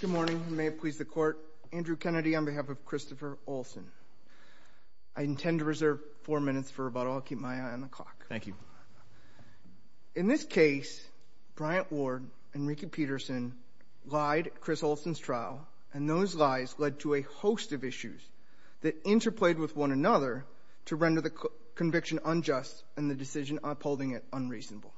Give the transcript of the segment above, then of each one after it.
Good morning, and may it please the Court, Andrew Kennedy on behalf of Christopher Olsen. I intend to reserve four minutes for rebuttal. I'll keep my eye on the clock. In this case, Bryant Ward and Ricky Peterson lied at Chris Olsen's trial, and those lies led to a host of issues that interplayed with one another to render the conviction unjust and the decision upholding it unreasonable.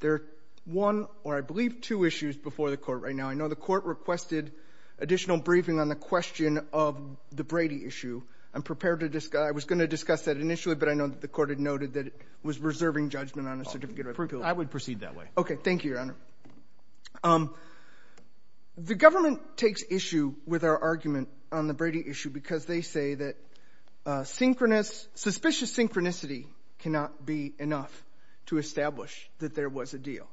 There are one, or I believe two, issues before the Court right now. I know the Court requested additional briefing on the question of the Brady issue. I'm prepared to discuss — I was going to discuss that initially, but I know that the Court had noted that it was reserving judgment on a certificate of approval. I would proceed that way. Okay. Thank you, Your Honor. The government takes issue with our argument on the Brady issue because they say that synchronous — suspicious synchronicity cannot be enough to establish that there was a deal.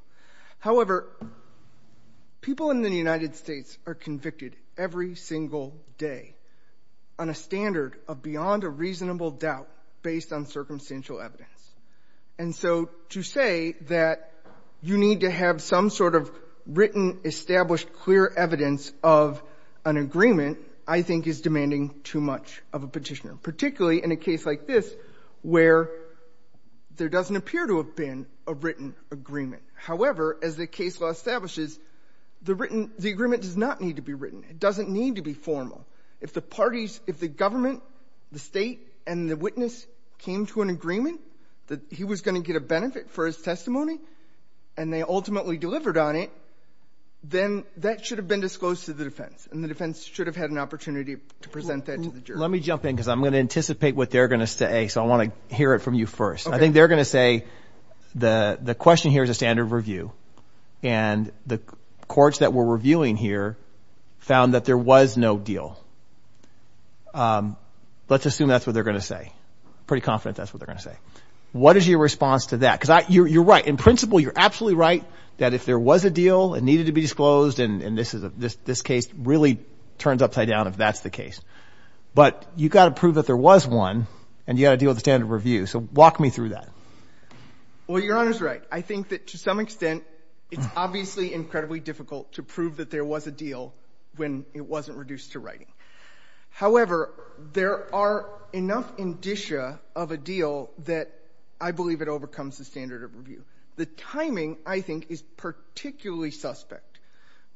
However, people in the United States are convicted every single day on a standard of beyond a reasonable doubt based on circumstantial evidence. And so to say that you need to have some sort of written, established, clear evidence of an agreement I think is demanding too much of a Petitioner, particularly in a case like this where there doesn't appear to have been a written agreement. However, as the case law establishes, the written — the agreement does not need to be written. It doesn't need to be formal. If the parties — if the government, the State, and the witness came to an agreement that he was going to get a benefit for his testimony, and they ultimately delivered on it, then that should have been disclosed to the defense, and the defense should have had an opportunity to present that to the Let me jump in because I'm going to anticipate what they're going to say, so I want to hear it from you first. Okay. I think they're going to say the question here is a standard of review, and the courts that were reviewing here found that there was no deal. Let's assume that's what they're going to say. I'm pretty confident that's what they're going to say. What is your response to that? Because you're right. In principle, you're absolutely right that if there was a deal, it needed to be disclosed, and this case really turns upside down if that's the case. But you've got to prove that there was one, and you've got to deal with the standard of review, so walk me through that. Well, Your Honor's right. I think that to some extent, it's obviously incredibly difficult to prove that there was a deal when it wasn't reduced to writing. However, there are enough indicia of a deal that I believe it overcomes the standard of review. The timing, I think, is particularly suspect.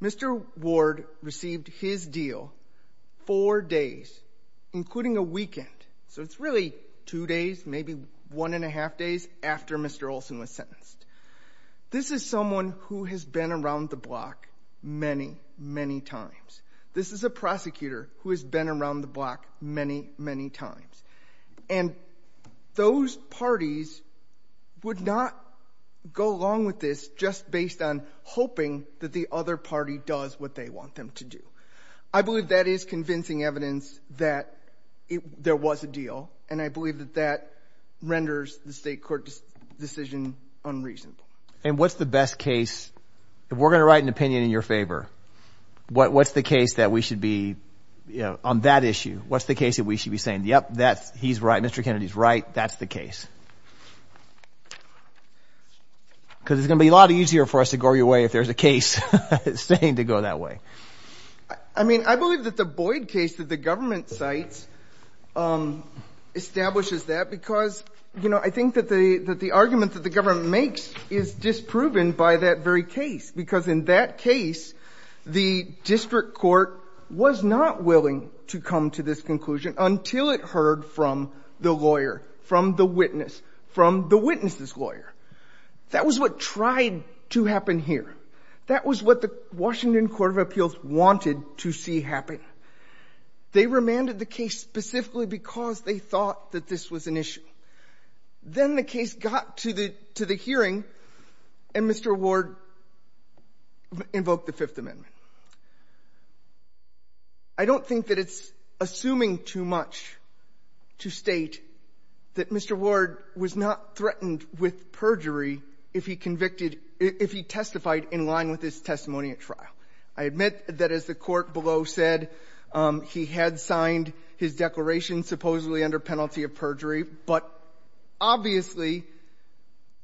Mr. Ward received his deal four days, including a weekend. So it's really two days, maybe one and a half days after Mr. Olson was sentenced. This is someone who has been around the block many, many times. This is a prosecutor who has been around the block many, many times. And those parties would not go along with this just based on hoping that the other party does what they want them to do. I believe that is convincing evidence that there was a deal, and I believe that that renders the state court decision unreasonable. And what's the best case? If we're going to write an opinion in your favor, what's the case that we should be on that issue? What's the case that we should be saying, yep, he's right, Mr. Kennedy's right, that's the case? Because it's going to be a lot easier for us to go your way if there's a case saying to go that way. I mean, I believe that the Boyd case that the government cites establishes that because, you know, I think that the argument that the government makes is disproven by that very case, because in that case, the district court was not willing to come to this conclusion until it heard from the lawyer, from the witness, from the witness's lawyer. That was what tried to happen here. That was what the Washington Court of Appeals wanted to see happen. They remanded the case specifically because they thought that this was an issue. Then the case got to the hearing, and Mr. Ward invoked the Fifth Amendment. I don't think that it's assuming too much to state that Mr. Ward was not threatened with perjury if he convicted — if he testified in line with his testimony at trial. I admit that, as the Court below said, he had signed his declaration supposedly under penalty of perjury, but obviously,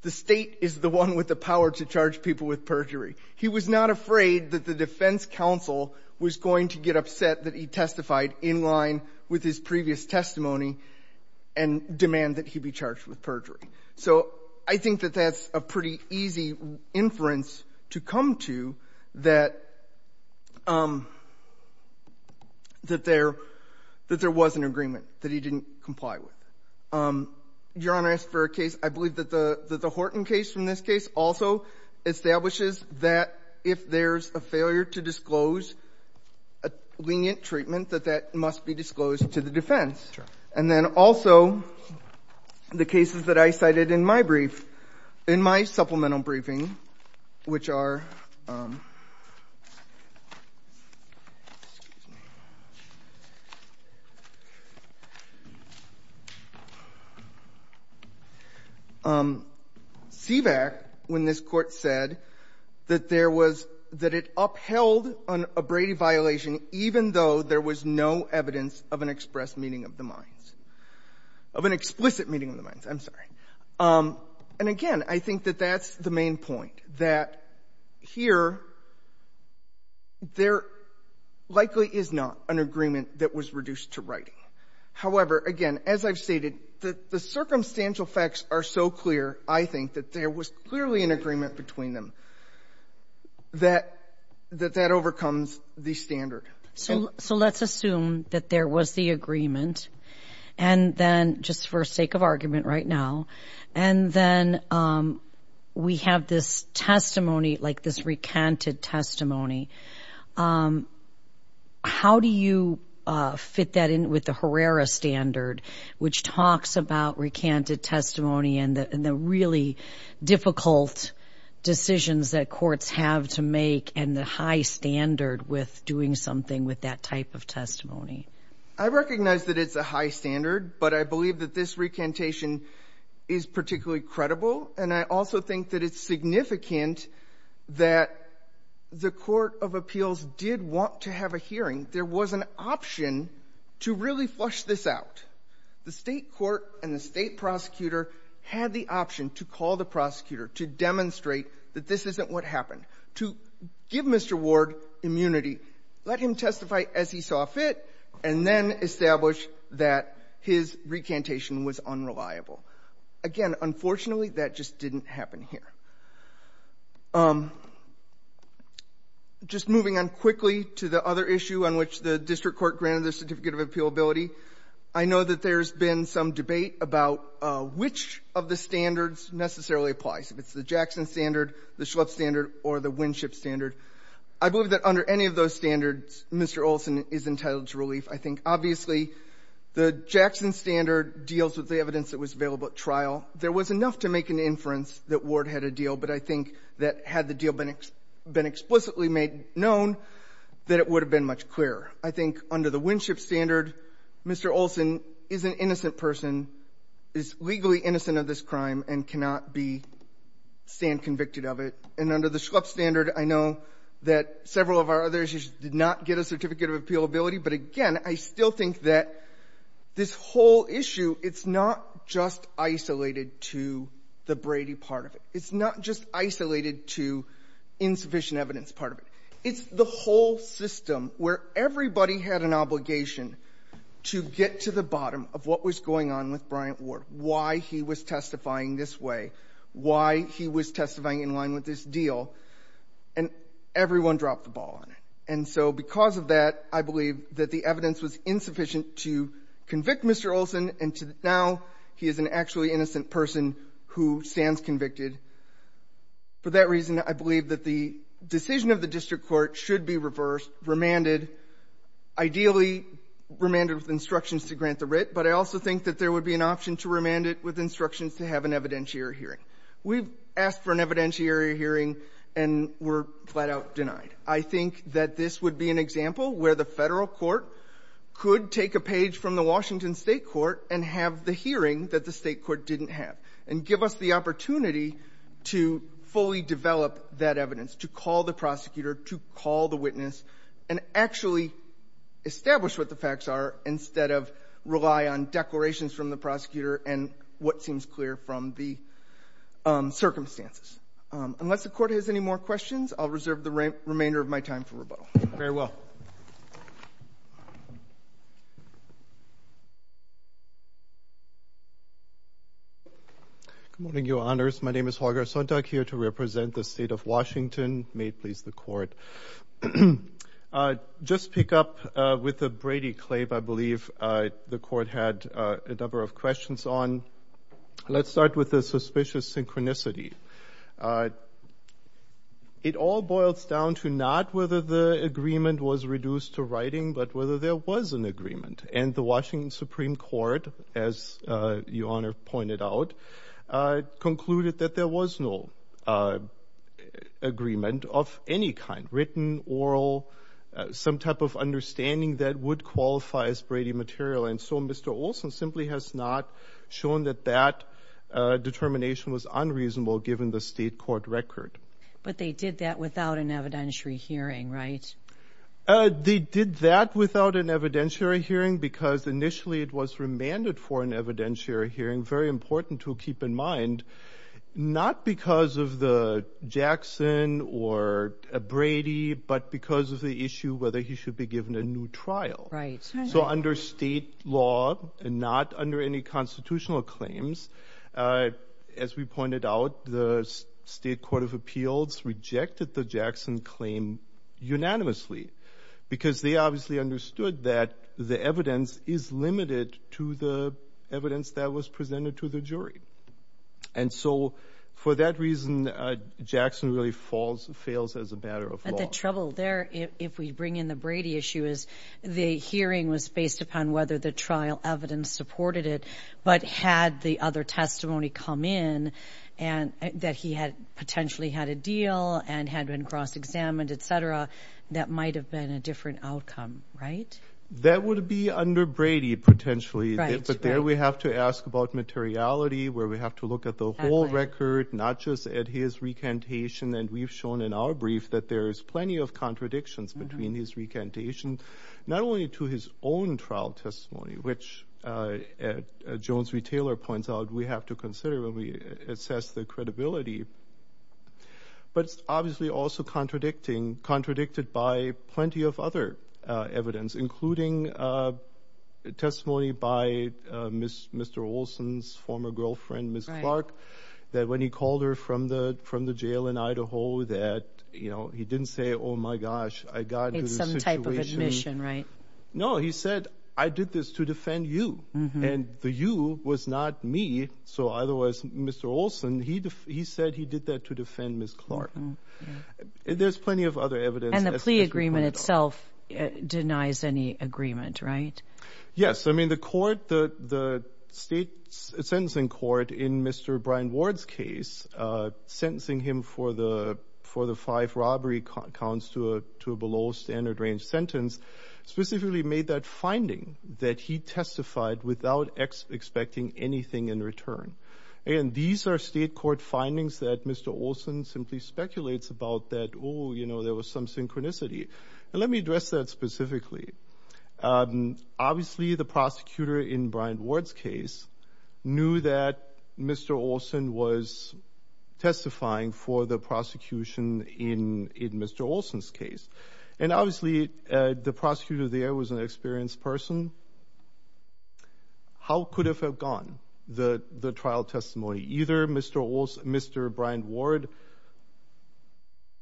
the State is the one with the He was not afraid that the defense counsel was going to get upset that he testified in line with his previous testimony and demand that he be charged with perjury. So I think that that's a pretty easy inference to come to, that — that there — that there was an agreement that he didn't comply with. Your Honor, as for a case, I believe that the — that the Horton case, from this case, also establishes that if there's a failure to disclose a lenient treatment, that that must be disclosed to the defense. And then also, the cases that I cited in my brief, in my supplemental briefing, which are — excuse me — CVAC, when this Court said that there was — that it upheld an abraded violation even though there was no evidence of an express meeting of the minds — of an explicit meeting of the minds, I'm sorry. And again, I think that that's the main point, that here, there likely is not an agreement that was reduced to writing. However, again, as I've stated, the — the circumstantial facts are so clear that it's not clear, I think, that there was clearly an agreement between them that — that that overcomes the standard. So — so let's assume that there was the agreement, and then — just for sake of argument right now — and then we have this testimony, like this recanted testimony. How do you fit that in with the Herrera standard, which talks about recanted testimony and the — and the really difficult decisions that courts have to make and the high standard with doing something with that type of testimony? I recognize that it's a high standard, but I believe that this recantation is particularly credible. And I also think that it's significant that the Court of Appeals did want to have a hearing. There was an option to really flush this out. The State court and the State prosecutor had the option to call the prosecutor to demonstrate that this isn't what happened, to give Mr. Ward immunity, let him testify as he saw fit, and then establish that his recantation was unreliable. Again, unfortunately, that just didn't happen here. Just moving on quickly to the other issue on which the district court granted the certificate of appealability, I know that there's been some debate about which of the standards necessarily applies, if it's the Jackson standard, the Schlepp standard, or the Winship standard. I believe that under any of those standards, Mr. Olson is entitled to relief. I think, obviously, the Jackson standard deals with the evidence that was available at trial. There was enough to make an inference that Ward had a deal, but I think that had the deal been explicitly made known, that it would have been much clearer. I think under the Winship standard, Mr. Olson is an innocent person, is legally innocent of this crime, and cannot be stand convicted of it. And under the Schlepp standard, I know that several of our others did not get a certificate of appealability, but, again, I still think that this whole issue, it's not just isolated to the Brady part of it. It's not just isolated to insufficient evidence part of it. It's the whole system where everybody had an obligation to get to the bottom of what was going on with Bryant Ward, why he was testifying this way, why he was testifying in line with this deal, and everyone dropped the ball on it. And so because of that, I believe that the evidence was insufficient to convict Mr. Olson, and to now he is an actually innocent person who stands convicted. For that reason, I believe that the decision of the district court should be reversed, remanded, ideally remanded with instructions to grant the writ, but I also think that there would be an option to remand it with instructions to have an evidentiary hearing and were flat-out denied. I think that this would be an example where the Federal court could take a page from the Washington State court and have the hearing that the State court didn't have, and give us the opportunity to fully develop that evidence, to call the prosecutor, to call the witness, and actually establish what the facts are instead of rely on declarations from the prosecutor and what seems clear from the circumstances. Unless the court has any more questions, I'll reserve the remainder of my time for rebuttal. Very well. Good morning, Your Honors. My name is Jorge Sontag, here to represent the State of Washington. May it please the court. Just to pick up with the Brady Claim, I believe the court had a number of questions on. Let's start with the suspicious synchronicity. It all boils down to not whether the agreement was reduced to writing, but whether there was an agreement. And the Washington Supreme Court, as Your Honor pointed out, concluded that there was no agreement of any kind, written, oral, some type of understanding that would qualify as Brady material. And so Mr. Olson simply has not shown that that determination was unreasonable given the State court record. But they did that without an evidentiary hearing, right? They did that without an evidentiary hearing because initially it was remanded for an evidentiary hearing. Very important to keep in mind, not because of the Jackson or Brady, but because of the issue whether he should be given a new trial. So under state law and not under any constitutional claims, as we pointed out, the State Court of Appeals rejected the Jackson claim unanimously because they obviously understood that the evidence is limited to the evidence that was presented to the jury. And so for that reason, Jackson really falls, fails as a matter of law. But the trouble there, if we bring in the Brady issue, is the hearing was based upon whether the trial evidence supported it, but had the other testimony come in and that he had potentially had a deal and had been cross-examined, et cetera, that might have been a different outcome, right? That would be under Brady, potentially. But there we have to ask about materiality where we have to look at the whole record, not just at his recantation. And we've shown in our brief that there's plenty of contradictions between his recantation, not only to his own trial testimony, which Jones v. Taylor points out we have to consider when we assess the credibility, but obviously also contradicted by plenty of other evidence, including testimony by Mr. Olson's former girlfriend, Ms. Clark, that when he called her from the jail in Idaho that he didn't say, oh my gosh, I got into this situation. It's some type of admission, right? No, he said, I did this to defend you. And the you was not me. So otherwise, Mr. Olson, he said he did that to defend Ms. Clark. There's plenty of other evidence. And the plea agreement itself denies any agreement, right? Yes. I mean, the court, the state sentencing court in Mr. Brian Ward's case, sentencing him for the five robbery counts to a below standard range sentence, specifically made that finding that he testified without expecting anything in return. And these are state court findings that Mr. Olson simply speculates about that, oh, you know, there was some synchronicity. Let me address that specifically. Obviously, the prosecutor in Brian Ward's case knew that Mr. Olson was testifying for the prosecution in Mr. Olson's case. And obviously, the prosecutor there was an experienced person. How could have have gone the trial testimony? Either Mr. Brian Ward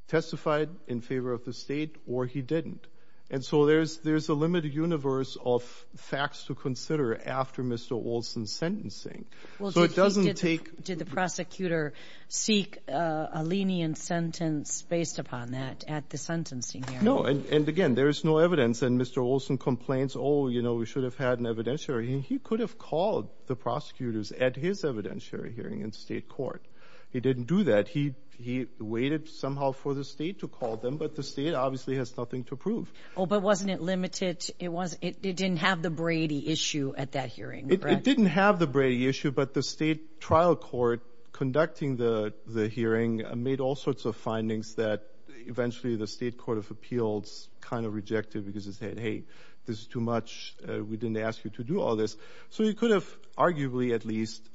testified in favor of the state or he didn't. And so there's a limited universe of facts to after Mr. Olson's sentencing. So it doesn't take. Did the prosecutor seek a lenient sentence based upon that at the sentencing hearing? No. And again, there is no evidence. And Mr. Olson complains, oh, you know, we should have had an evidentiary. He could have called the prosecutors at his evidentiary hearing in state court. He didn't do that. He waited somehow for the state to call them. But the state obviously has nothing to prove. Oh, but wasn't it limited? It didn't have the Brady issue at that hearing. It didn't have the Brady issue, but the state trial court conducting the hearing made all sorts of findings that eventually the state court of appeals kind of rejected because it said, hey, this is too much. We didn't ask you to do all this. So you could have arguably at least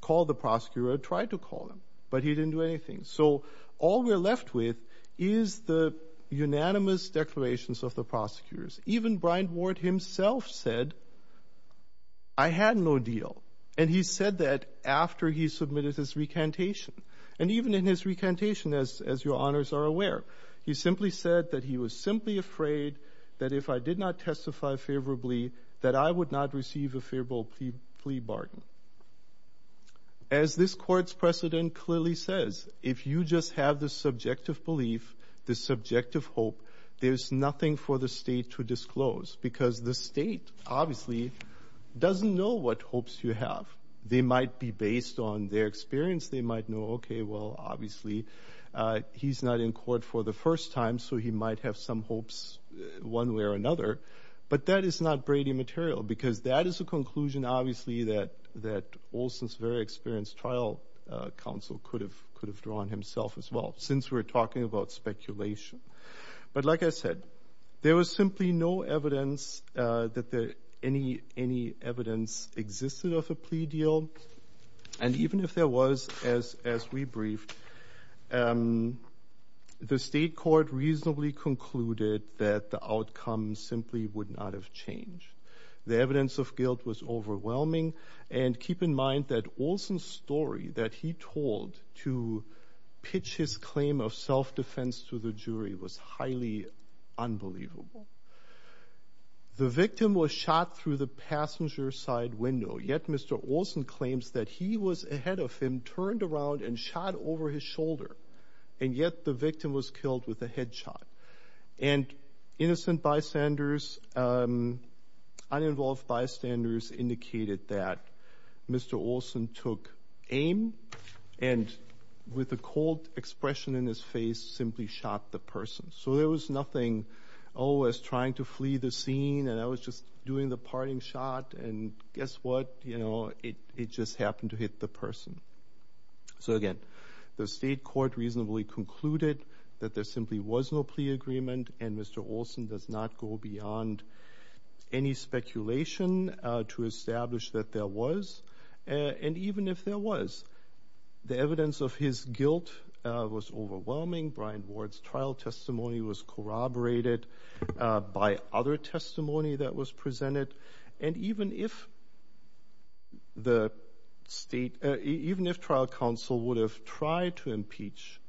called the prosecutor or tried to call him, but he didn't do anything. So all we're left with is the unanimous declarations of the prosecutors. Even Bryant Ward himself said, I had no deal. And he said that after he submitted his recantation. And even in his recantation, as your honors are aware, he simply said that he was simply afraid that if I did not testify favorably, that I would not receive a favorable plea bargain. As this court's precedent clearly says, if you just have the subjective belief, the subjective hope, there's nothing for the state to disclose because the state obviously doesn't know what hopes you have. They might be based on their experience. They might know, okay, well, obviously he's not in court for the first time, so he might have some hopes one way or another. But that is not Brady material because that is a conclusion obviously that Olson's very experienced trial counsel could have drawn himself as well, since we're talking about speculation. But like I said, there was simply no evidence that any evidence existed of a plea deal. And even if there was, as we briefed, the state court reasonably concluded that the outcome simply would not have changed. The evidence of guilt was overwhelming. And keep in mind that Olson's story that he told to pitch his claim of self-defense to the jury was highly unbelievable. The victim was shot through the passenger side window, yet Mr. Olson claims that he was ahead of him, turned around, and shot over his shoulder, and yet the victim was killed with a headshot. And innocent bystanders, uninvolved bystanders indicated that Mr. Olson took aim and with a cold expression in his face simply shot the person. So there was nothing, oh, as trying to flee the scene, and I was just doing the parting shot, and guess what? You know, it just happened to hit the person. So again, the state court reasonably concluded that there simply was no plea agreement, and Mr. Olson does not go beyond any speculation to establish that there was. And even if there was, the evidence of his guilt was overwhelming. Brian Ward's trial testimony was corroborated by other testimony that was presented. And even if the state, even if trial counsel would have tried to impeach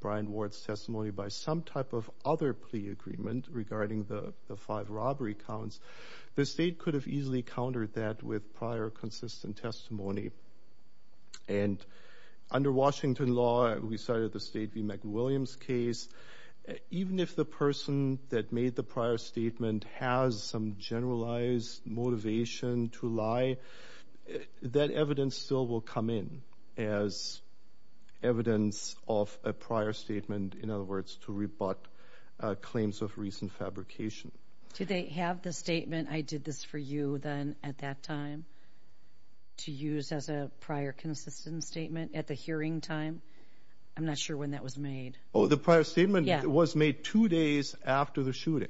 Brian Ward's testimony by some type of other plea agreement regarding the five robbery counts, the state could have easily countered with prior consistent testimony. And under Washington law, we cited the State v. McWilliams case. Even if the person that made the prior statement has some generalized motivation to lie, that evidence still will come in as evidence of a prior statement, in other words, to rebut claims of recent fabrication. Did they have the statement, I did this for you then at that time, to use as a prior consistent statement at the hearing time? I'm not sure when that was made. Oh, the prior statement was made two days after the shooting.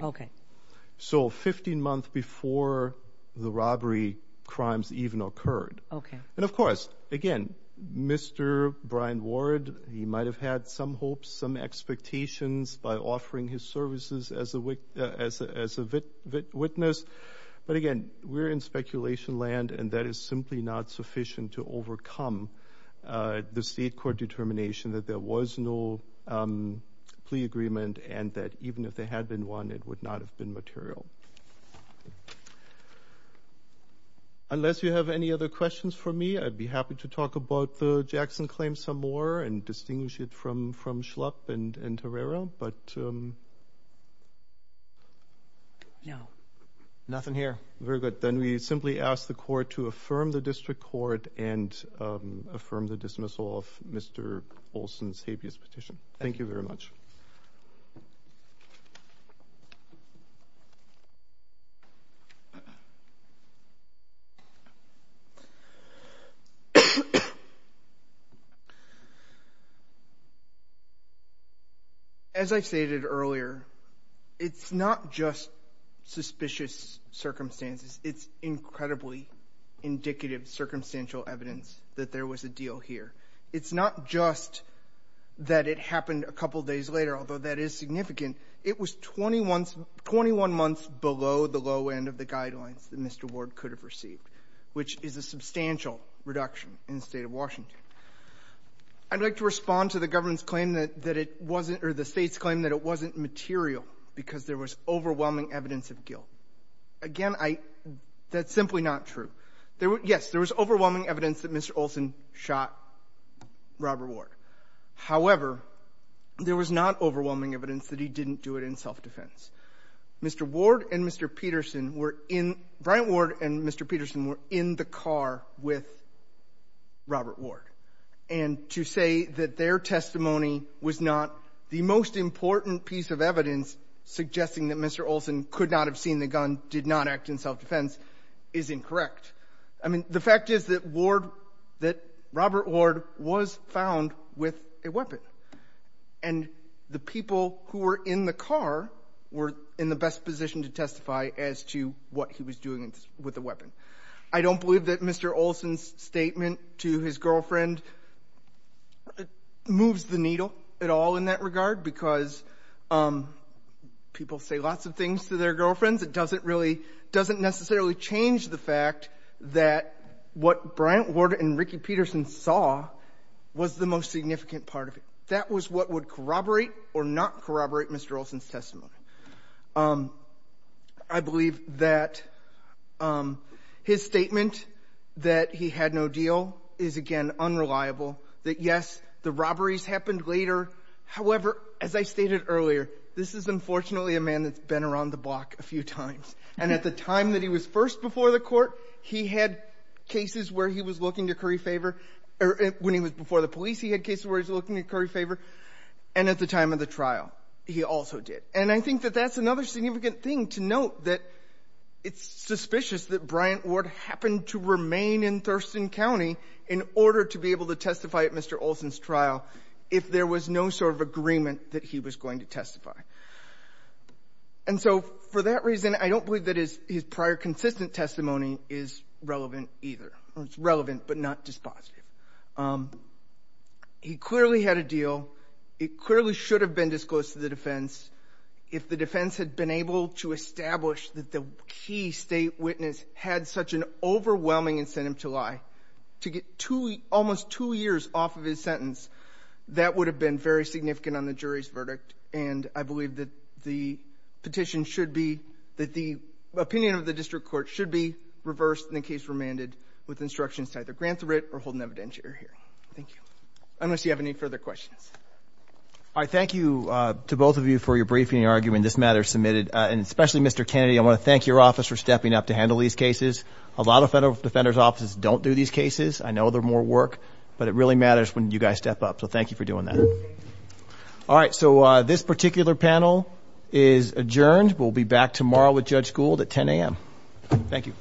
So 15 months before the robbery crimes even occurred. And of course, again, Mr. Brian Ward, he might have had some hopes, some expectations by offering his services as a witness. But again, we're in speculation land, and that is simply not sufficient to overcome the state court determination that there was no plea agreement, and that even if there had been one, it would not have been material. Unless you have any other questions for me, I'd be happy to talk about the Jackson claim some more and distinguish it from Schlupp and Torreira. No, nothing here. Very good. Then we simply ask the court to affirm the district court and affirm the dismissal of Mr. Olson's habeas petition. Thank you very much. As I stated earlier, it's not just suspicious circumstances. It's incredibly indicative circumstantial evidence that there was a deal here. It's not just that it happened a couple days later, although that is significant. It was 21 months below the low end of the guidelines that Mr. Ward could have received, which is a substantial reduction in the state Washington. I'd like to respond to the government's claim that it wasn't or the state's claim that it wasn't material because there was overwhelming evidence of guilt. Again, that's simply not true. Yes, there was overwhelming evidence that Mr. Olson shot Robert Ward. However, there was not overwhelming evidence that he didn't do it in self-defense. Mr. Ward and Mr. Peterson were in Bryant Ward and Mr. Peterson were in the car with Robert Ward. And to say that their testimony was not the most important piece of evidence suggesting that Mr. Olson could not have seen the gun did not act in self-defense is incorrect. I mean, the fact is that Ward that Robert Ward was found with a weapon and the people who were in the car were in the best position to testify as to what he was doing with the weapon. I don't believe that Mr. Olson's statement to his girlfriend moves the needle at all in that regard because people say lots of things to their girlfriends. It doesn't really doesn't necessarily change the fact that what Bryant Ward and Ricky Peterson saw was the most significant part of it. That was what would corroborate or not corroborate Mr. Olson's testimony. I believe that his statement that he had no deal is, again, unreliable, that, yes, the robberies happened later. However, as I stated earlier, this is unfortunately a man that's been around the block a few times. And at the time that he was first before the Court, he had cases where he was looking to curry favor. When he was before the police, he had cases where he was looking to curry favor. And at the time of the trial, he also did. And I think that that's another significant thing to note, that it's suspicious that Bryant Ward happened to remain in Thurston County in order to be able to testify at Mr. Olson's trial if there was no sort of agreement that he was going to testify. And so for that reason, I don't believe that his prior consistent testimony is relevant either. It's relevant, but not dispositive. He clearly had a deal. It clearly should have been disclosed to the defense. If the defense had been able to establish that the key state witness had such an overwhelming incentive to lie, to get almost two years off of his sentence, that would have been very significant on the jury's verdict. And I believe that the petition should be, that the opinion of the District Court should be reversed in the case remanded with instructions to either grant the writ or hold an evidentiary hearing. Thank you. Unless you have any further questions. All right. Thank you to both of you for your briefing and argument. This matter is submitted. And especially Mr. Kennedy, I want to thank your office for stepping up to handle these cases. A lot of federal defenders' offices don't do these cases. I know they're more work, but it really matters when you guys step up. So thank you for doing that. All right. So this particular panel is adjourned. We'll be back tomorrow with Judge Gould at 10 a.m. Thank you.